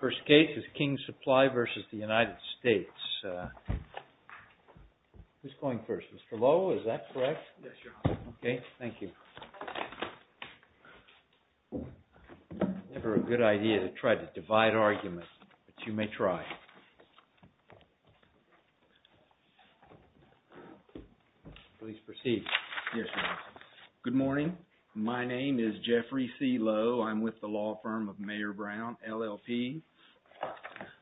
First case is King Supply v. United States. Who's going first? Mr. Lowe, is that correct? Yes, Your Honor. Okay, thank you. It's never a good idea to try to divide arguments, but you may try. Please proceed. Good morning. My name is Jeffrey C. Lowe. I'm with the law firm of Mayor Brown, LLP.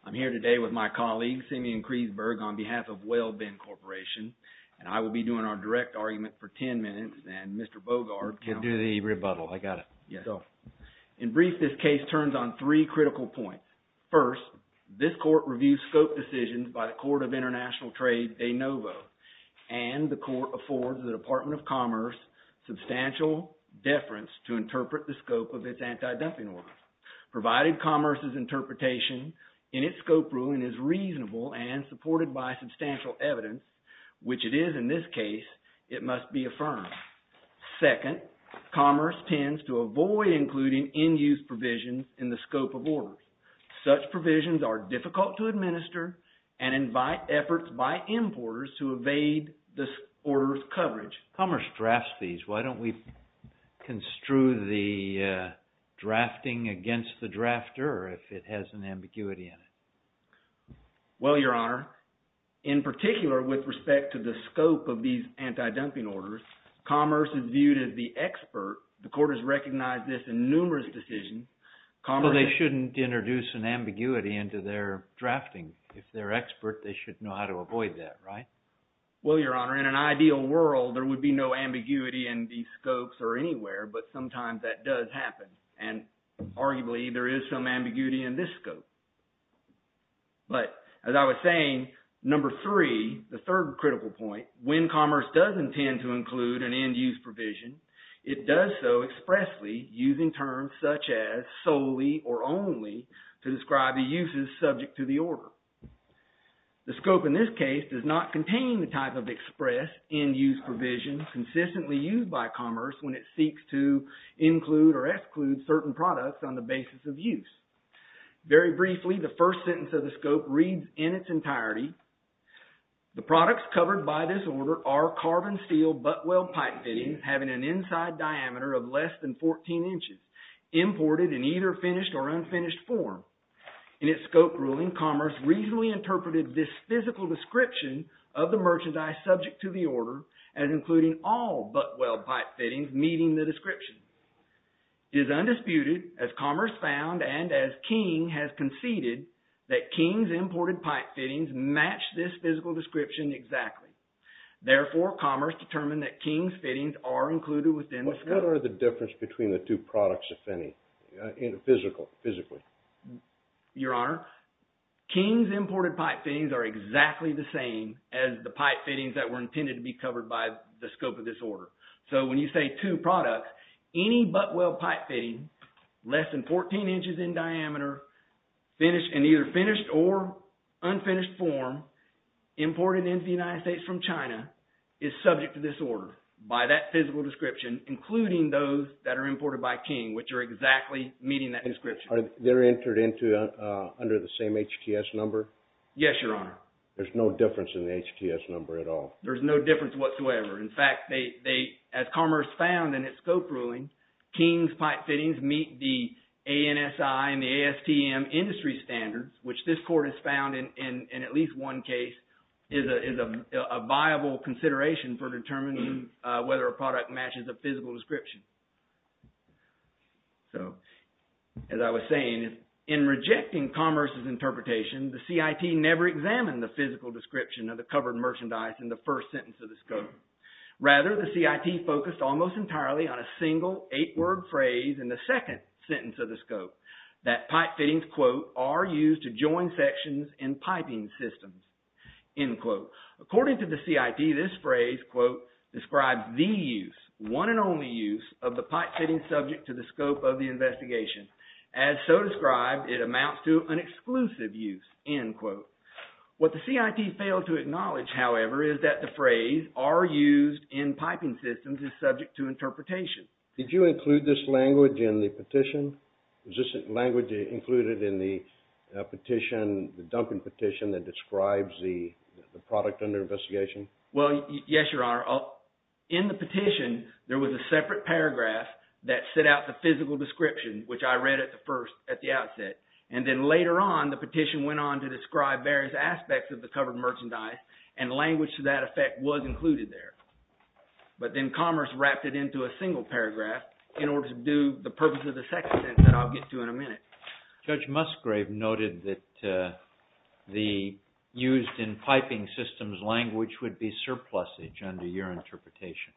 I'm here today with my colleagues, Simeon Kreisberg, on behalf of Whale Bend Corporation. And I will be doing our direct argument for ten minutes, and Mr. Bogart can do the rebuttal. In brief, this case turns on three critical points. First, this court reviews scope decisions by the Court of International Trade, de novo. And the court affords the Department of Commerce substantial deference to interpret the scope of its anti-dumping orders. Provided Commerce's interpretation in its scope ruling is reasonable and supported by substantial evidence, which it is in this case, it must be affirmed. Second, Commerce tends to avoid including in-use provisions in the scope of orders. Such provisions are difficult to administer and invite efforts by importers to evade the order's coverage. Commerce drafts these. Why don't we construe the drafting against the drafter, or if it has an ambiguity in it? Well, Your Honor, in particular with respect to the scope of these anti-dumping orders, Commerce is viewed as the expert. The court has recognized this in numerous decisions. Well, they shouldn't introduce an ambiguity into their drafting. If they're expert, they should know how to avoid that, right? Well, Your Honor, in an ideal world, there would be no ambiguity in these scopes or anywhere, but sometimes that does happen. And arguably, there is some ambiguity in this scope. But as I was saying, number three, the third critical point, when Commerce does intend to include an in-use provision, it does so expressly using terms such as solely or only to describe the uses subject to the order. The scope in this case does not contain the type of express in-use provision consistently used by Commerce when it seeks to include or exclude certain products on the basis of use. Very briefly, the first sentence of the scope reads in its entirety, The products covered by this order are carbon steel butt-weld pipe fittings having an inside diameter of less than 14 inches, imported in either finished or unfinished form. In its scope ruling, Commerce reasonably interpreted this physical description of the merchandise subject to the order as including all butt-weld pipe fittings meeting the description. It is undisputed, as Commerce found and as King has conceded, that King's imported pipe fittings match this physical description exactly. Therefore, Commerce determined that King's fittings are included within the scope. What's the difference between the two products, if any, physically? Your Honor, King's imported pipe fittings are exactly the same as the pipe fittings that were intended to be covered by the scope of this order. So when you say two products, any butt-weld pipe fitting less than 14 inches in diameter, finished in either finished or unfinished form, imported into the United States from China, is subject to this order by that physical description, including those that are imported by King, which are exactly meeting that description. Are they entered under the same HTS number? Yes, Your Honor. There's no difference in the HTS number at all? There's no difference whatsoever. In fact, as Commerce found in its scope ruling, King's pipe fittings meet the ANSI and the ASTM industry standards, which this Court has found in at least one case is a viable consideration for determining whether a product matches a physical description. So as I was saying, in rejecting Commerce's interpretation, the CIT never examined the physical description of the covered merchandise in the first sentence of the scope. Rather, the CIT focused almost entirely on a single eight-word phrase in the second sentence of the scope, that pipe fittings, quote, are used to join sections in piping systems, end quote. According to the CIT, this phrase, quote, describes the use, one and only use, of the pipe fitting subject to the scope of the investigation. As so described, it amounts to an exclusive use, end quote. What the CIT failed to acknowledge, however, is that the phrase, are used in piping systems, is subject to interpretation. Did you include this language in the petition? Is this language included in the petition, the Duncan petition that describes the product under investigation? Well, yes, Your Honor. In the petition, there was a separate paragraph that set out the physical description, which I read at the first, at the outset. And then later on, the petition went on to describe various aspects of the covered merchandise, and language to that effect was included there. But then Commerce wrapped it into a single paragraph in order to do the purpose of the second sentence that I'll get to in a minute. Judge Musgrave noted that the used in piping systems language would be surplusage under your interpretation.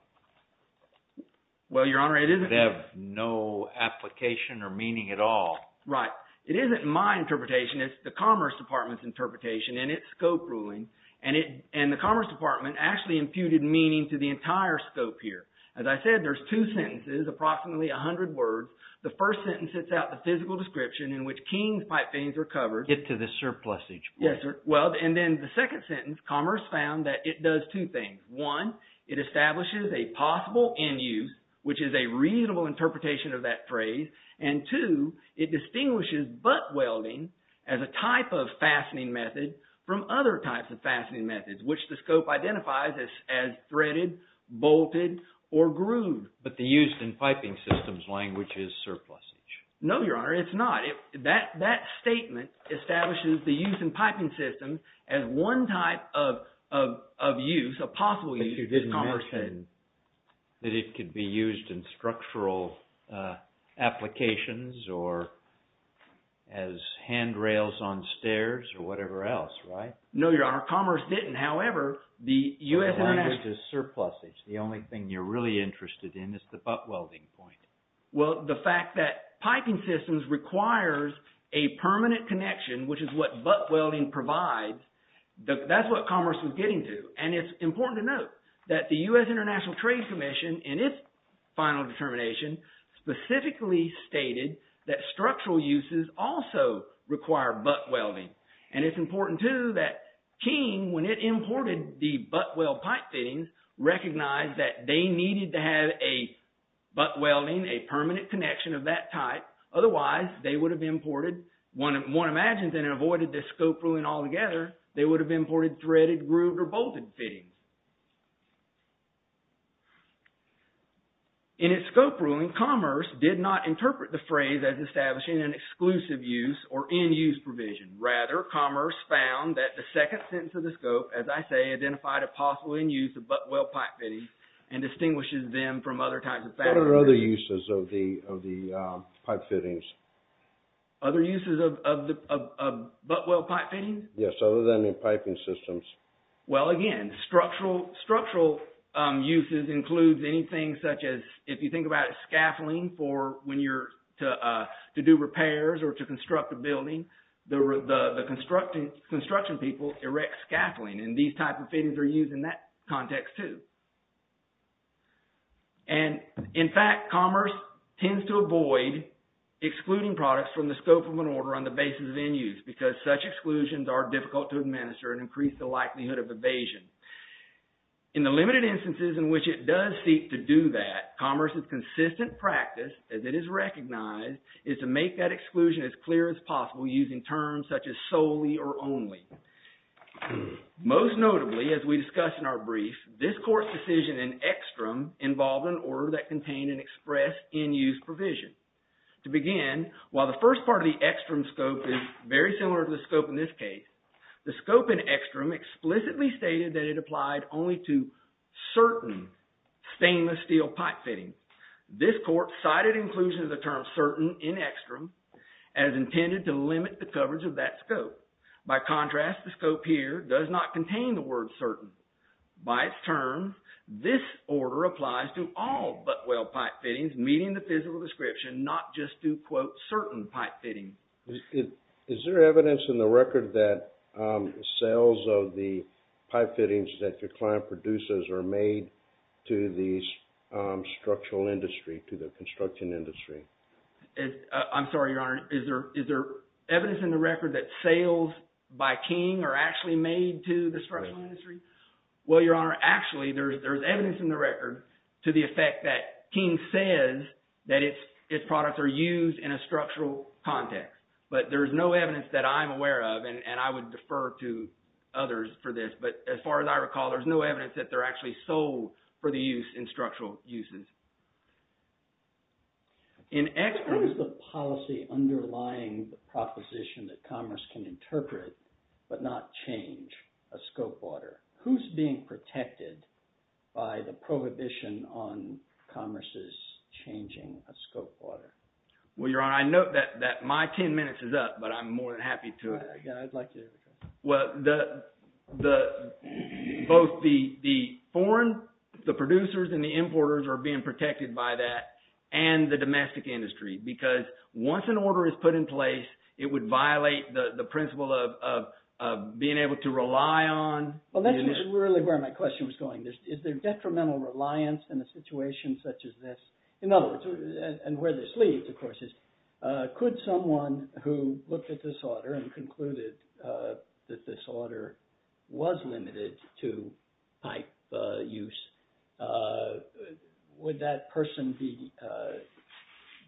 Well, Your Honor, it isn't. It would have no application or meaning at all. Right. It isn't my interpretation. It's the Commerce Department's interpretation in its scope ruling. And the Commerce Department actually imputed meaning to the entire scope here. As I said, there's two sentences, approximately 100 words. The first sentence sets out the physical description in which Keene's pipe fins are covered. It's the surplusage. Yes, sir. Well, and then the second sentence, Commerce found that it does two things. One, it establishes a possible end use, which is a reasonable interpretation of that phrase. And two, it distinguishes butt welding as a type of fastening method from other types of fastening methods, which the scope identifies as threaded, bolted, or grooved. But the used in piping systems language is surplusage. No, Your Honor, it's not. That statement establishes the used in piping systems as one type of use, a possible use, as Commerce said. But you didn't mention that it could be used in structural applications or as handrails on stairs or whatever else, right? No, Your Honor. Commerce didn't. However, the U.S. – The language is surplusage. The only thing you're really interested in is the butt welding point. Well, the fact that piping systems requires a permanent connection, which is what butt welding provides, that's what Commerce was getting to. And it's important to note that the U.S. International Trade Commission, in its final determination, specifically stated that structural uses also require butt welding. And it's important, too, that King, when it imported the butt weld pipe fittings, recognized that they needed to have a butt welding, a permanent connection of that type. Otherwise, they would have imported – one imagines that it avoided the scope ruling altogether. They would have imported threaded, grooved, or bolted fittings. In its scope ruling, Commerce did not interpret the phrase as establishing an exclusive use or in-use provision. Rather, Commerce found that the second sentence of the scope, as I say, identified a possible in-use of butt weld pipe fittings and distinguishes them from other types of – What are other uses of the pipe fittings? Other uses of butt weld pipe fittings? Yes, other than in piping systems. Well, again, structural uses includes anything such as, if you think about it, scaffolding for when you're to do repairs or to construct a building. The construction people erect scaffolding, and these types of fittings are used in that context, too. And, in fact, Commerce tends to avoid excluding products from the scope of an order on the basis of in-use because such exclusions are difficult to administer and increase the likelihood of evasion. In the limited instances in which it does seek to do that, Commerce's consistent practice, as it is recognized, is to make that exclusion as clear as possible using terms such as solely or only. Most notably, as we discussed in our brief, this court's decision in extreme involved an order that contained an express in-use provision. To begin, while the first part of the extreme scope is very similar to the scope in this case, the scope in extreme explicitly stated that it applied only to certain stainless steel pipe fittings. This court cited inclusion of the term certain in extreme as intended to limit the coverage of that scope. By contrast, the scope here does not contain the word certain. By its term, this order applies to all Butwell pipe fittings meeting the physical description, not just to, quote, certain pipe fittings. Is there evidence in the record that sales of the pipe fittings that your client produces are made to these structural industry, to the construction industry? I'm sorry, Your Honor. Is there evidence in the record that sales by King are actually made to the structural industry? Well, Your Honor, actually there's evidence in the record to the effect that King says that its products are used in a structural context. But there's no evidence that I'm aware of, and I would defer to others for this. But as far as I recall, there's no evidence that they're actually sold for the use in structural uses. In X, what is the policy underlying the proposition that commerce can interpret but not change a scope order? Who's being protected by the prohibition on commerce's changing a scope order? Well, Your Honor, I note that my 10 minutes is up, but I'm more than happy to – Yeah, I'd like to hear the question. Well, both the foreign – the producers and the importers are being protected by that, and the domestic industry, because once an order is put in place, it would violate the principle of being able to rely on – Well, that's really where my question was going. Is there detrimental reliance in a situation such as this? In other words, and where this leads, of course, is could someone who looked at this order and concluded that this order was limited to pipe use, would that person be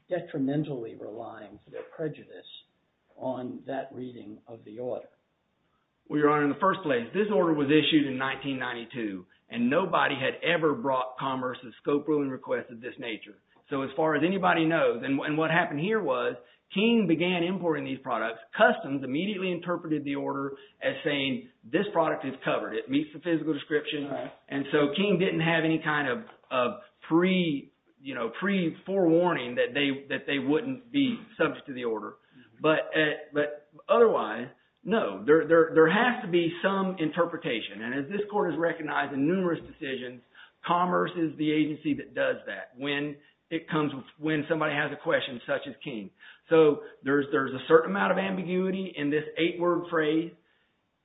detrimentally relying for their prejudice on that reading of the order? Well, Your Honor, in the first place, this order was issued in 1992, and nobody had ever brought commerce a scope ruling request of this nature. So as far as anybody knows – and what happened here was King began importing these products. Customs immediately interpreted the order as saying, this product is covered. It meets the physical description. And so King didn't have any kind of pre-forewarning that they wouldn't be subject to the order. But otherwise, no, there has to be some interpretation. And as this court has recognized in numerous decisions, commerce is the agency that does that when it comes – when somebody has a question such as King. So there's a certain amount of ambiguity in this eight-word phrase.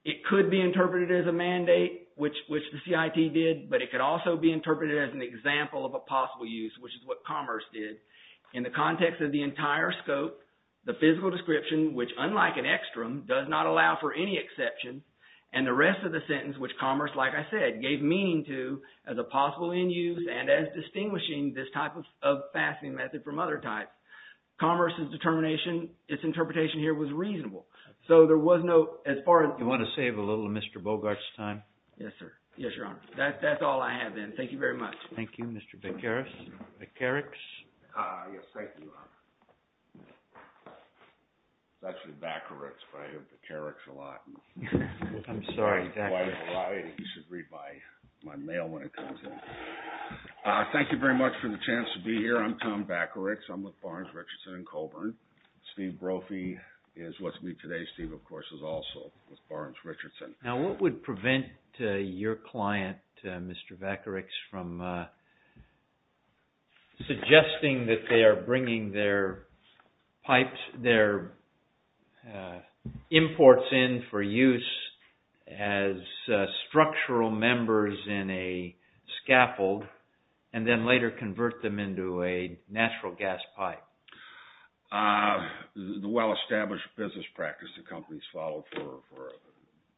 It could be interpreted as a mandate, which the CIT did, but it could also be interpreted as an example of a possible use, which is what commerce did. In the context of the entire scope, the physical description, which unlike an extreme, does not allow for any exception, and the rest of the sentence, which commerce, like I said, gave meaning to as a possible end use and as distinguishing this type of fasting method from other types. Commerce's determination, its interpretation here was reasonable. So there was no – as far as – You want to save a little of Mr. Bogart's time? Yes, sir. Yes, Your Honor. That's all I have then. Thank you very much. Thank you, Mr. Vakarix. Yes, thank you, Your Honor. It's actually Vakarix, but I hear Vakarix a lot. I'm sorry, Vakarix. You should read my mail when it comes in. Thank you very much for the chance to be here. I'm Tom Vakarix. I'm with Barnes-Richardson and Colburn. Steve Brophy is with me today. Steve, of course, is also with Barnes-Richardson. Now, what would prevent your client, Mr. Vakarix, from suggesting that they are bringing their pipes, their imports in for use as structural members in a scaffold and then later convert them into a natural gas pipe? The well-established business practice the company has followed for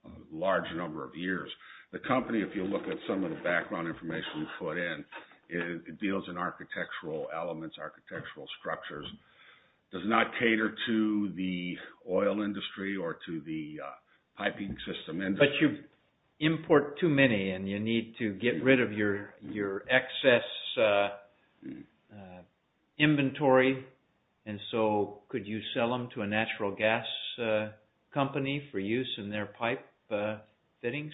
a large number of years. The company, if you look at some of the background information we put in, it deals in architectural elements, architectural structures. It does not cater to the oil industry or to the piping system industry. But you import too many and you need to get rid of your excess inventory, and so could you sell them to a natural gas company for use in their pipe fittings?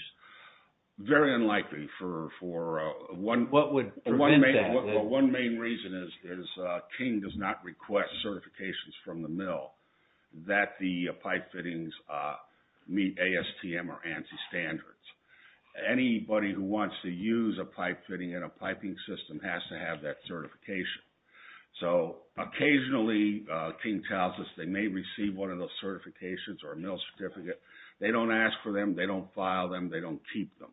Very unlikely. What would prevent that? Well, one main reason is King does not request certifications from the mill that the pipe fittings meet ASTM or ANSI standards. Anybody who wants to use a pipe fitting in a piping system has to have that certification. So occasionally, King tells us they may receive one of those certifications or a mill certificate. They don't ask for them, they don't file them, they don't keep them.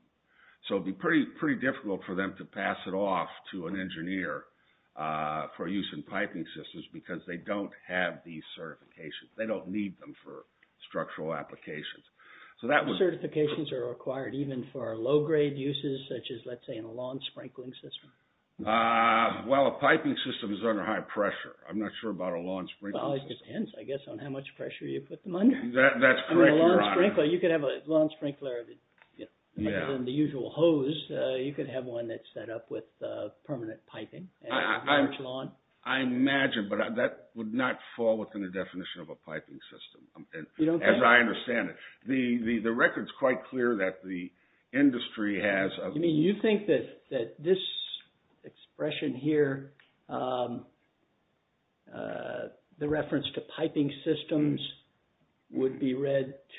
So it would be pretty difficult for them to pass it off to an engineer for use in piping systems because they don't have these certifications. They don't need them for structural applications. Certifications are required even for low-grade uses such as, let's say, in a lawn sprinkling system? Well, a piping system is under high pressure. I'm not sure about a lawn sprinkler system. Well, it depends, I guess, on how much pressure you put them under. That's correct, Your Honor. You could have a lawn sprinkler other than the usual hose. You could have one that's set up with permanent piping and a large lawn. I imagine, but that would not fall within the definition of a piping system as I understand it. The record's quite clear that the industry has...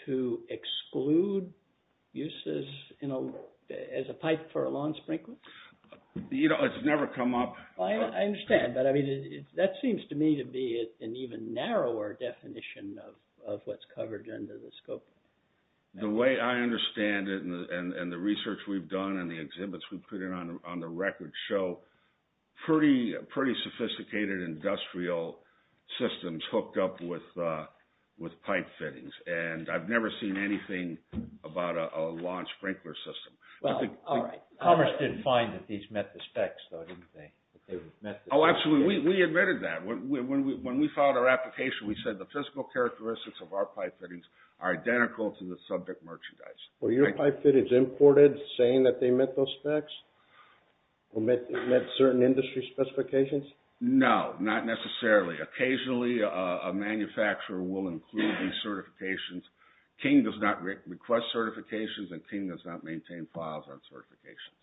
to exclude uses as a pipe for a lawn sprinkler? You know, it's never come up. I understand, but that seems to me to be an even narrower definition of what's covered under the scope. The way I understand it and the research we've done and the exhibits we've put in on the record show pretty sophisticated industrial systems hooked up with pipe fittings. And I've never seen anything about a lawn sprinkler system. Commerce didn't find that these met the specs, though, did they? Oh, absolutely. We admitted that. When we filed our application, we said the physical characteristics of our pipe fittings are identical to the subject merchandise. Were your pipe fittings imported saying that they met those specs? Or met certain industry specifications? No, not necessarily. Occasionally a manufacturer will include these certifications. King does not request certifications, and King does not maintain files on certifications.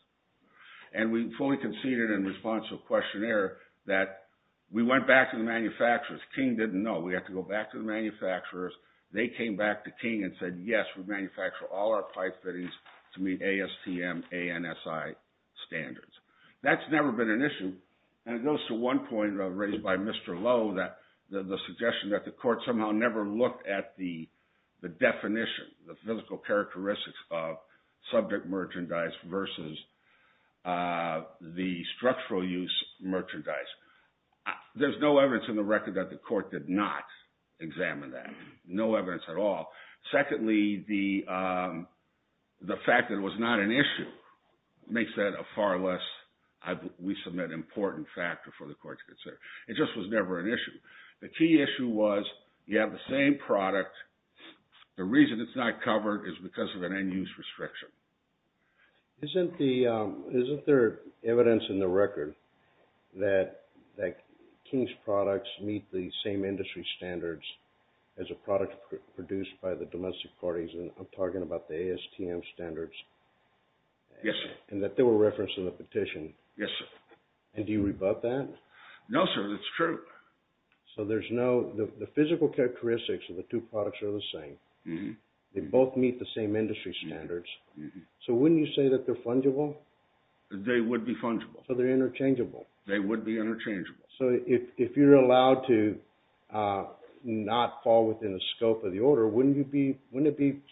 And we fully conceded in response to a questionnaire that we went back to the manufacturers. King didn't know. We had to go back to the manufacturers. They came back to King and said, yes, we manufacture all our pipe fittings to meet ASTM ANSI standards. That's never been an issue. And it goes to one point raised by Mr. Lowe, the suggestion that the court somehow never looked at the definition, the physical characteristics of subject merchandise versus the structural use merchandise. There's no evidence in the record that the court did not examine that, no evidence at all. Secondly, the fact that it was not an issue makes that a far less, we submit, important factor for the court to consider. It just was never an issue. The key issue was you have the same product. The reason it's not covered is because of an end-use restriction. Isn't there evidence in the record that King's products meet the same industry standards as a product produced by the domestic parties? And I'm talking about the ASTM standards. Yes, sir. And that they were referenced in the petition. Yes, sir. And do you rebut that? No, sir, that's true. So there's no, the physical characteristics of the two products are the same. They both meet the same industry standards. So wouldn't you say that they're fungible? They would be fungible. So they're interchangeable. They would be interchangeable. So if you're allowed to not fall within the scope of the order, wouldn't it be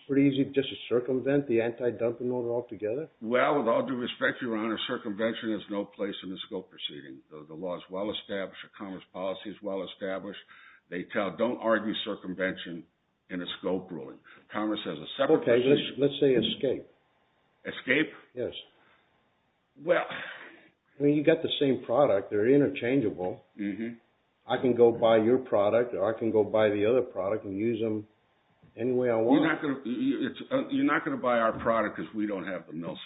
pretty easy just to circumvent the anti-dumping order altogether? Well, with all due respect, Your Honor, circumvention has no place in the scope proceeding. The law is well established. The commerce policy is well established. They tell, don't argue circumvention in a scope ruling. Commerce has a separate position. Okay, let's say escape. Escape? Yes. I mean, you've got the same product. They're interchangeable. I can go buy your product or I can go buy the other product and use them any way I want. You're not going to buy our product because we don't have the mill certificates.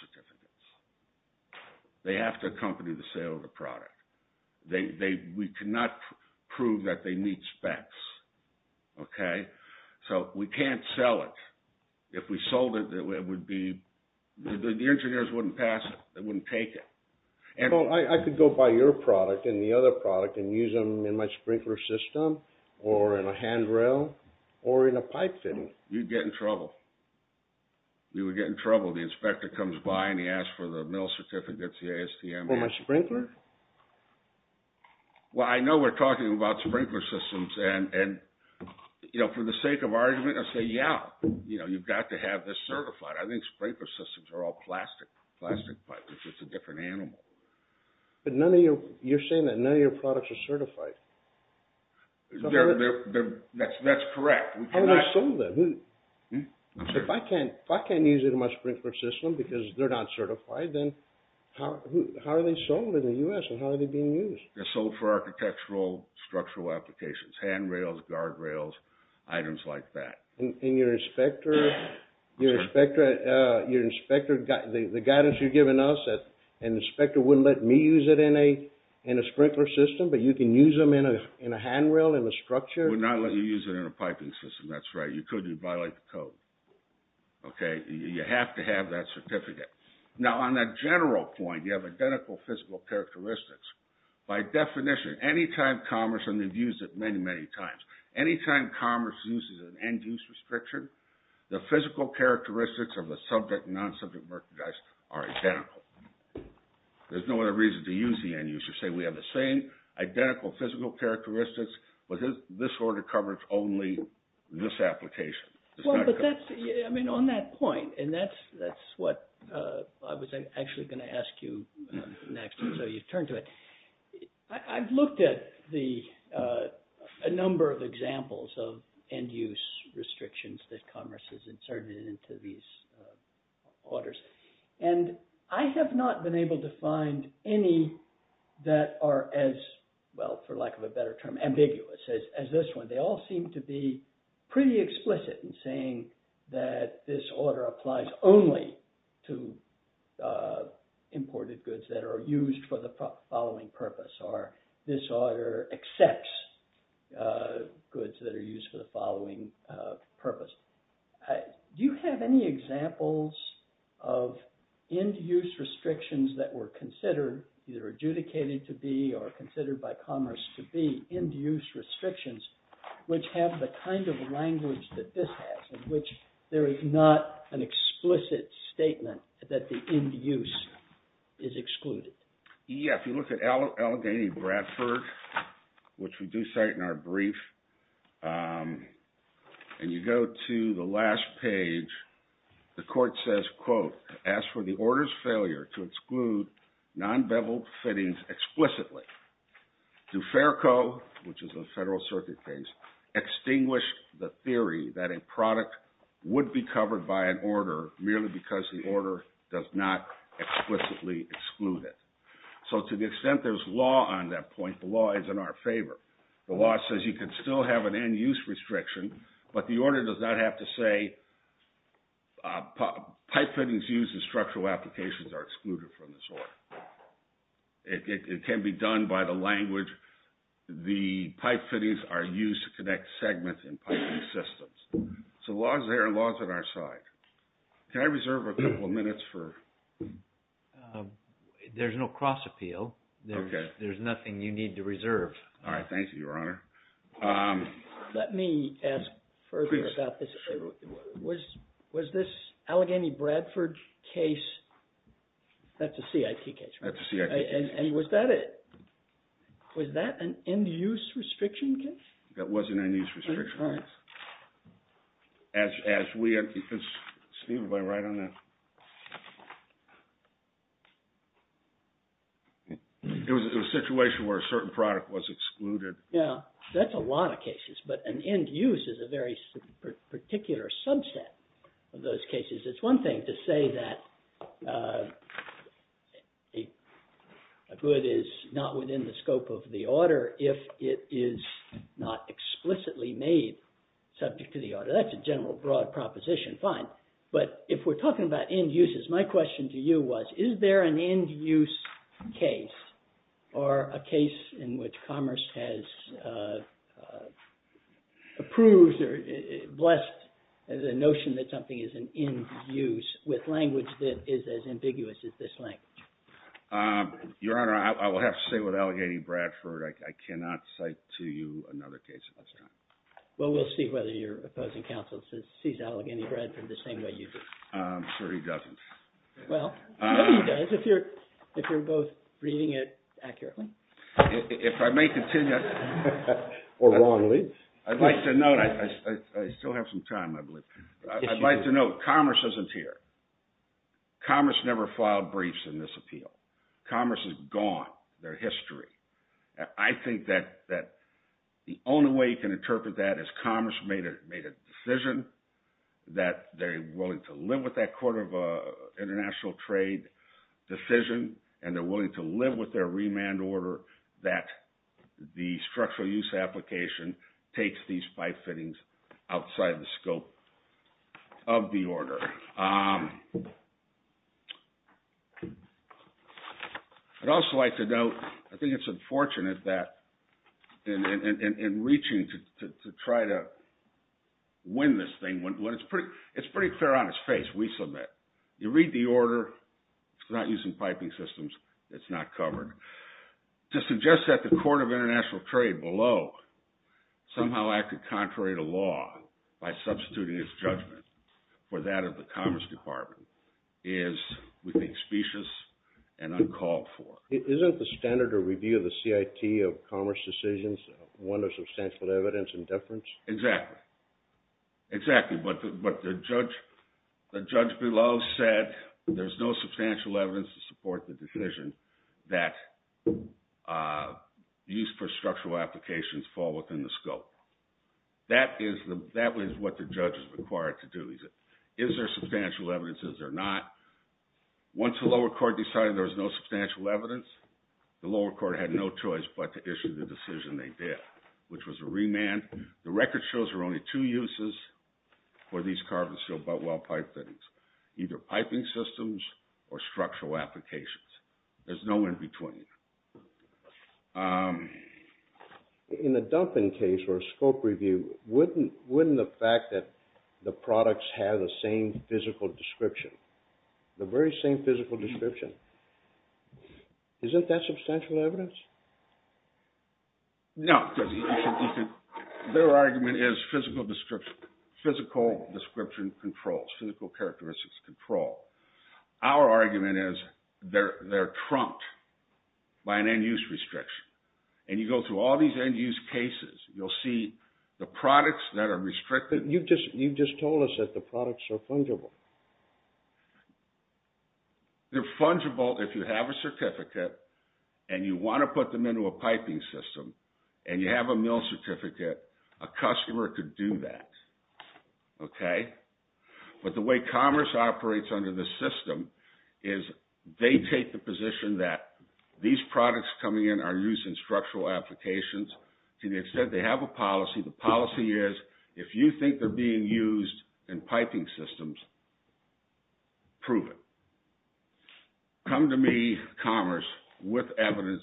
They have to accompany the sale of the product. We cannot prove that they meet specs. Okay? So we can't sell it. If we sold it, the engineers wouldn't pass it. They wouldn't take it. I could go buy your product and the other product and use them in my sprinkler system or in a handrail or in a pipe fitting. You'd get in trouble. You would get in trouble. The inspector comes by and he asks for the mill certificates, the ASTM. For my sprinkler? Well, I know we're talking about sprinkler systems. For the sake of argument, I say, yeah, you've got to have this certified. I think sprinkler systems are all plastic pipes. It's a different animal. But you're saying that none of your products are certified. That's correct. How are they sold then? If I can't use it in my sprinkler system because they're not certified, then how are they sold in the U.S. and how are they being used? They're sold for architectural structural applications. Handrails, guardrails, items like that. And your inspector, the guidance you've given us, and the inspector wouldn't let me use it in a sprinkler system, but you can use them in a handrail, in a structure? Would not let you use it in a piping system. That's right. You couldn't. You'd violate the code. Okay? You have to have that certificate. Now, on a general point, you have identical physical characteristics. By definition, anytime commerce, and they've used it many, many times, anytime commerce uses an end-use restriction, the physical characteristics of the subject and non-subject merchandise are identical. There's no other reason to use the end-use. You say we have the same identical physical characteristics, but this order covers only this application. I mean, on that point, and that's what I was actually going to ask you next, so you turn to it. I've looked at a number of examples of end-use restrictions that commerce has inserted into these orders, and I have not been able to find any that are as, well, for lack of a better term, ambiguous as this one. They all seem to be pretty explicit in saying that this order applies only to imported goods that are used for the following purpose, or this order accepts goods that are used for the following purpose. Do you have any examples of end-use restrictions that were considered, either adjudicated to be or considered by commerce to be end-use restrictions, which have the kind of language that this has, in which there is not an explicit statement that the end-use is excluded? Yeah, if you look at Allegheny-Bradford, which we do cite in our brief, and you go to the last page, the court says, quote, ask for the order's failure to exclude non-beveled fittings explicitly. Duferco, which is a Federal Circuit case, extinguished the theory that a product would be covered by an order merely because the order does not explicitly exclude it. So to the extent there's law on that point, the law is in our favor. The law says you can still have an end-use restriction, but the order does not have to say pipe fittings used in structural applications are excluded from this order. It can be done by the language, the pipe fittings are used to connect segments in piping systems. So the law is there and the law is on our side. Can I reserve a couple of minutes for... There's no cross-appeal. Okay. There's nothing you need to reserve. All right, thank you, Your Honor. Let me ask further about this. Please. Was this Allegheny-Bradford case... That's a CIT case, right? That's a CIT case. And was that an end-use restriction case? That was an end-use restriction case. All right. As we... Steve, if I write on that... It was a situation where a certain product was excluded. Yeah, that's a lot of cases, but an end-use is a very particular subset of those cases. It's one thing to say that a good is not within the scope of the order if it is not explicitly made subject to the order. That's a general, broad proposition. Fine. But if we're talking about end-uses, my question to you was, is there an end-use case or a case in which Commerce has approved or blessed the notion that something is an end-use with language that is as ambiguous as this language? Your Honor, I will have to say with Allegheny-Bradford, I cannot cite to you another case at this time. Well, we'll see whether your opposing counsel sees Allegheny-Bradford the same way you do. I'm sure he doesn't. Well, I know he does if you're both reading it accurately. If I may continue... Or wrongly. I'd like to note, I still have some time, I believe. I'd like to note Commerce isn't here. Commerce never filed briefs in this appeal. Commerce is gone. They're history. I think that the only way you can interpret that is Commerce made a decision, that they're willing to live with that court of international trade decision, and they're willing to live with their remand order that the structural use application takes these by-fittings outside the scope of the order. I'd also like to note, I think it's unfortunate that in reaching to try to win this thing, it's pretty fair on its face, we submit. You read the order, it's not using piping systems, it's not covered. To suggest that the court of international trade below somehow acted contrary to law by substituting its judgment for that of the Commerce Department is, we think, specious and uncalled for. Isn't the standard of review of the CIT of Commerce decisions one of substantial evidence and deference? Exactly. Exactly. What the judge below said, there's no substantial evidence to support the decision that the use for structural applications fall within the scope. That is what the judge is required to do. Is there substantial evidence? Is there not? Once the lower court decided there was no substantial evidence, the lower court had no choice but to issue the decision they did, which was a remand. The record shows there are only two uses for these carbon-sealed butt-well pipe fittings, either piping systems or structural applications. There's no in-between. In a dumping case or a scope review, wouldn't the fact that the products have the same physical description, the very same physical description, isn't that substantial evidence? No. Their argument is physical description controls, physical characteristics control. Our argument is they're trumped by an end-use restriction. And you go through all these end-use cases, you'll see the products that are restricted. You just told us that the products are fungible. They're fungible if you have a certificate and you want to put them into a piping system and you have a mill certificate. A customer could do that. Okay? But the way commerce operates under this system is they take the position that these products coming in are used in structural applications. To the extent they have a policy, the policy is if you think they're being used in piping systems, prove it. Come to me, commerce, with evidence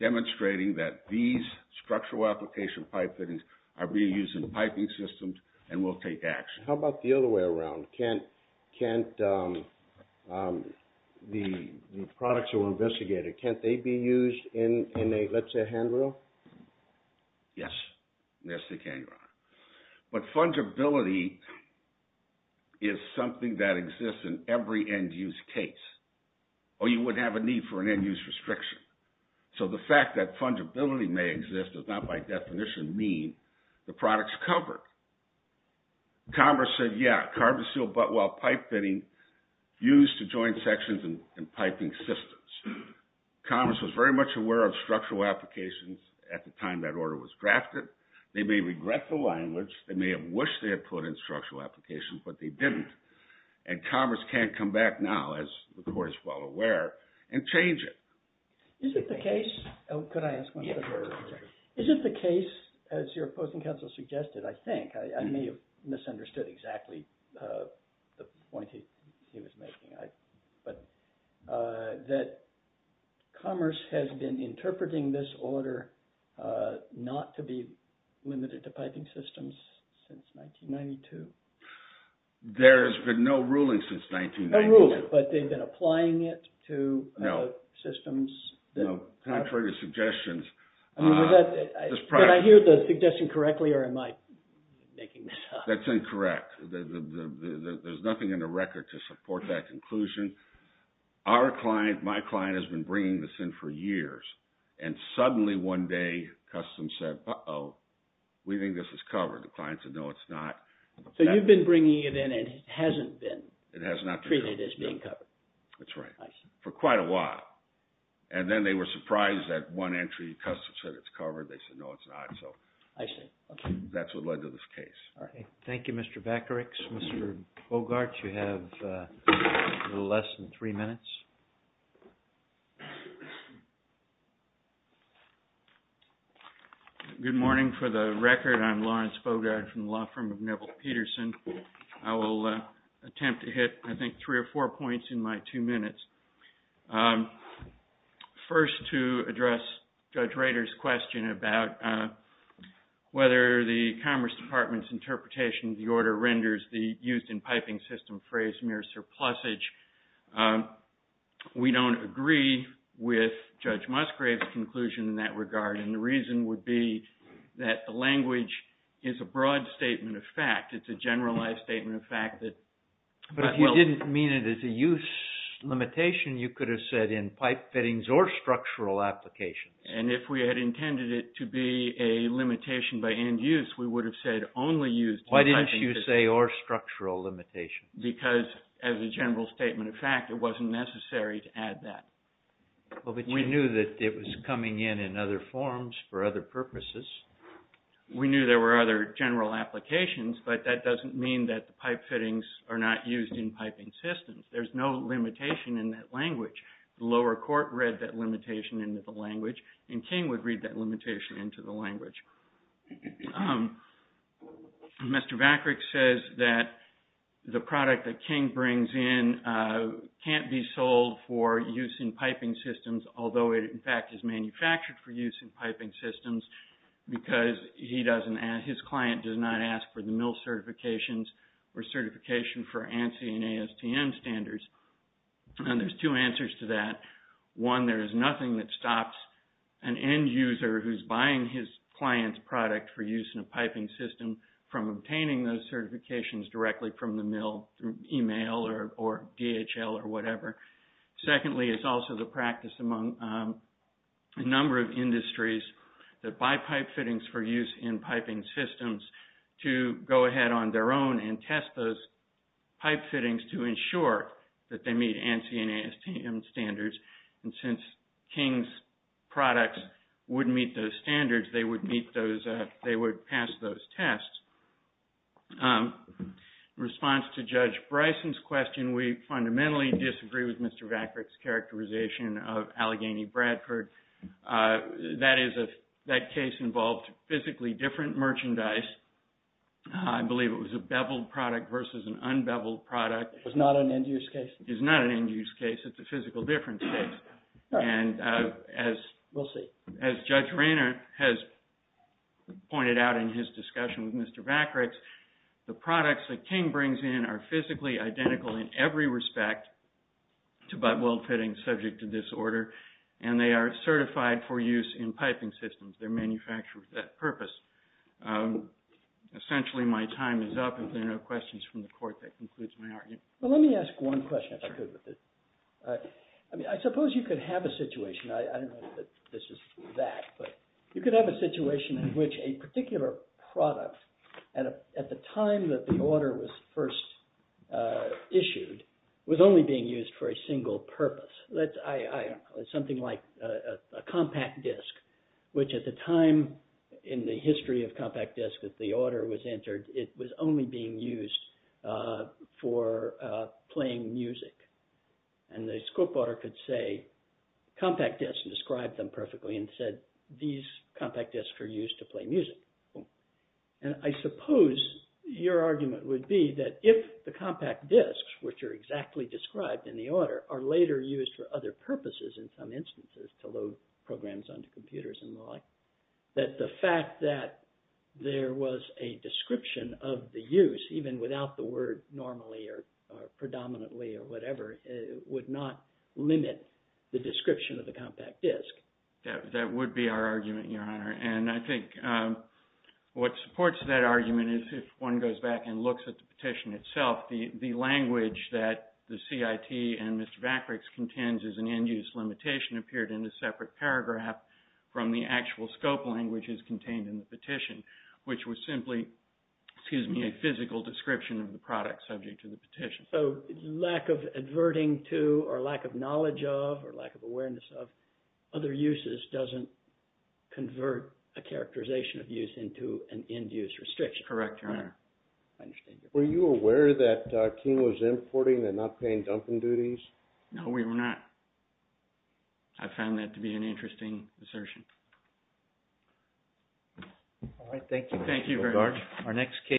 demonstrating that these structural application pipe fittings are being used in piping systems, and we'll take action. How about the other way around? Can't the products that were investigated, can't they be used in a, let's say, handrail? Yes, they can, Your Honor. But fungibility is something that exists in every end-use case. Or you wouldn't have a need for an end-use restriction. So the fact that fungibility may exist does not by definition mean the product's covered. Commerce said, yeah, carbon steel buttwell pipe fitting used to join sections in piping systems. Commerce was very much aware of structural applications at the time that order was drafted. They may regret the language. They may have wished they had put in structural applications, but they didn't. And commerce can't come back now, as the court is well aware, and change it. Is it the case, as your opposing counsel suggested, I think, I may have misunderstood exactly the point he was making, that commerce has been interpreting this order not to be limited to piping systems since 1992? There's been no ruling since 1992. No ruling, but they've been applying it to systems. Contrary to suggestions. Did I hear the suggestion correctly, or am I making this up? That's incorrect. There's nothing in the record to support that conclusion. Our client, my client, has been bringing this in for years. And suddenly, one day, customs said, uh-oh, we think this is covered. The client said, no, it's not. So you've been bringing it in, and it hasn't been treated as being covered. That's right. For quite a while. And then they were surprised that one entry, customs said it's covered. They said, no, it's not. I see. That's what led to this case. Thank you, Mr. Vakarix. Mr. Bogart, you have a little less than three minutes. Good morning. For the record, I'm Lawrence Bogart from the law firm of Neville Peterson. I will attempt to hit, I think, three or four points in my two minutes. First, to address Judge Rader's question about whether the Commerce Department's interpretation of the order renders the used-in-piping-system phrase mere surplusage, we don't agree with Judge Musgrave's conclusion in that regard. And the reason would be that the language is a broad statement of fact. It's a generalized statement of fact. But if you didn't mean it as a use limitation, you could have said in pipe fittings or structural applications. And if we had intended it to be a limitation by end use, we would have said only used-in-piping-systems. Why didn't you say or structural limitation? Because as a general statement of fact, it wasn't necessary to add that. Well, but you knew that it was coming in in other forms for other purposes. We knew there were other general applications, but that doesn't mean that pipe fittings are not used-in-piping-systems. There's no limitation in that language. The lower court read that limitation into the language, and King would read that limitation into the language. Mr. Vakarick says that the product that King brings in can't be sold for use-in-piping-systems, although it, in fact, is manufactured for use-in-piping-systems because his client does not ask for the mill certifications or certification for ANSI and ASTM standards. And there's two answers to that. One, there is nothing that stops an end user who's buying his client's product for use-in-a-piping-system from obtaining those certifications directly from the mill through email or DHL or whatever. Secondly, it's also the practice among a number of industries that buy pipe fittings for use-in-piping-systems to go ahead on their own and test those pipe fittings to ensure that they meet ANSI and ASTM standards. And since King's products wouldn't meet those standards, they would meet those, they would pass those tests. In response to Judge Bryson's question, we fundamentally disagree with Mr. Vakarick's characterization of Allegheny-Bradford. That case involved physically different merchandise. I believe it was a beveled product versus an unbeveled product. It's not an end-use case? It's not an end-use case. It's a physical difference case. All right. We'll see. As Judge Rayner has pointed out in his discussion with Mr. Vakarick, the products that King brings in are physically identical in every respect to butt-weld fittings subject to this order, and they are certified for use-in-piping- systems. They're manufactured with that purpose. Essentially, my time is up. If there are no questions from the Court, that concludes my argument. Well, let me ask one question. I suppose you could have a situation. I don't know if this is that, but you could have a situation in which a particular product at the time that the order was first issued was only being used for a single purpose. Something like a compact disc, which at the time in the history of compact discs that the order was entered, it was only being used for playing music. And the scope order could say compact discs and describe them perfectly and said these compact discs are used to play music. And I suppose your argument would be that if the compact discs, which are exactly described in the order, are later used for other purposes in some instances, to load programs onto computers and the like, that the fact that there was a description of the use, even without the word normally or predominantly or whatever, would not limit the description of the compact disc. That would be our argument, Your Honor. And I think what supports that argument is if one goes back and looks at the petition itself, the language that the CIT and Mr. Vakriks contends is an end use limitation appeared in a separate paragraph from the actual scope language as contained in the petition, which was simply a physical description of the petition. So lack of adverting to, or lack of knowledge of, or lack of awareness of other uses doesn't convert a characterization of use into an end use restriction. Correct, Your Honor. I understand. Were you aware that King was importing and not paying dumping duties? No, we were not. I found that to be an interesting assertion. All right, thank you. Thank you very much.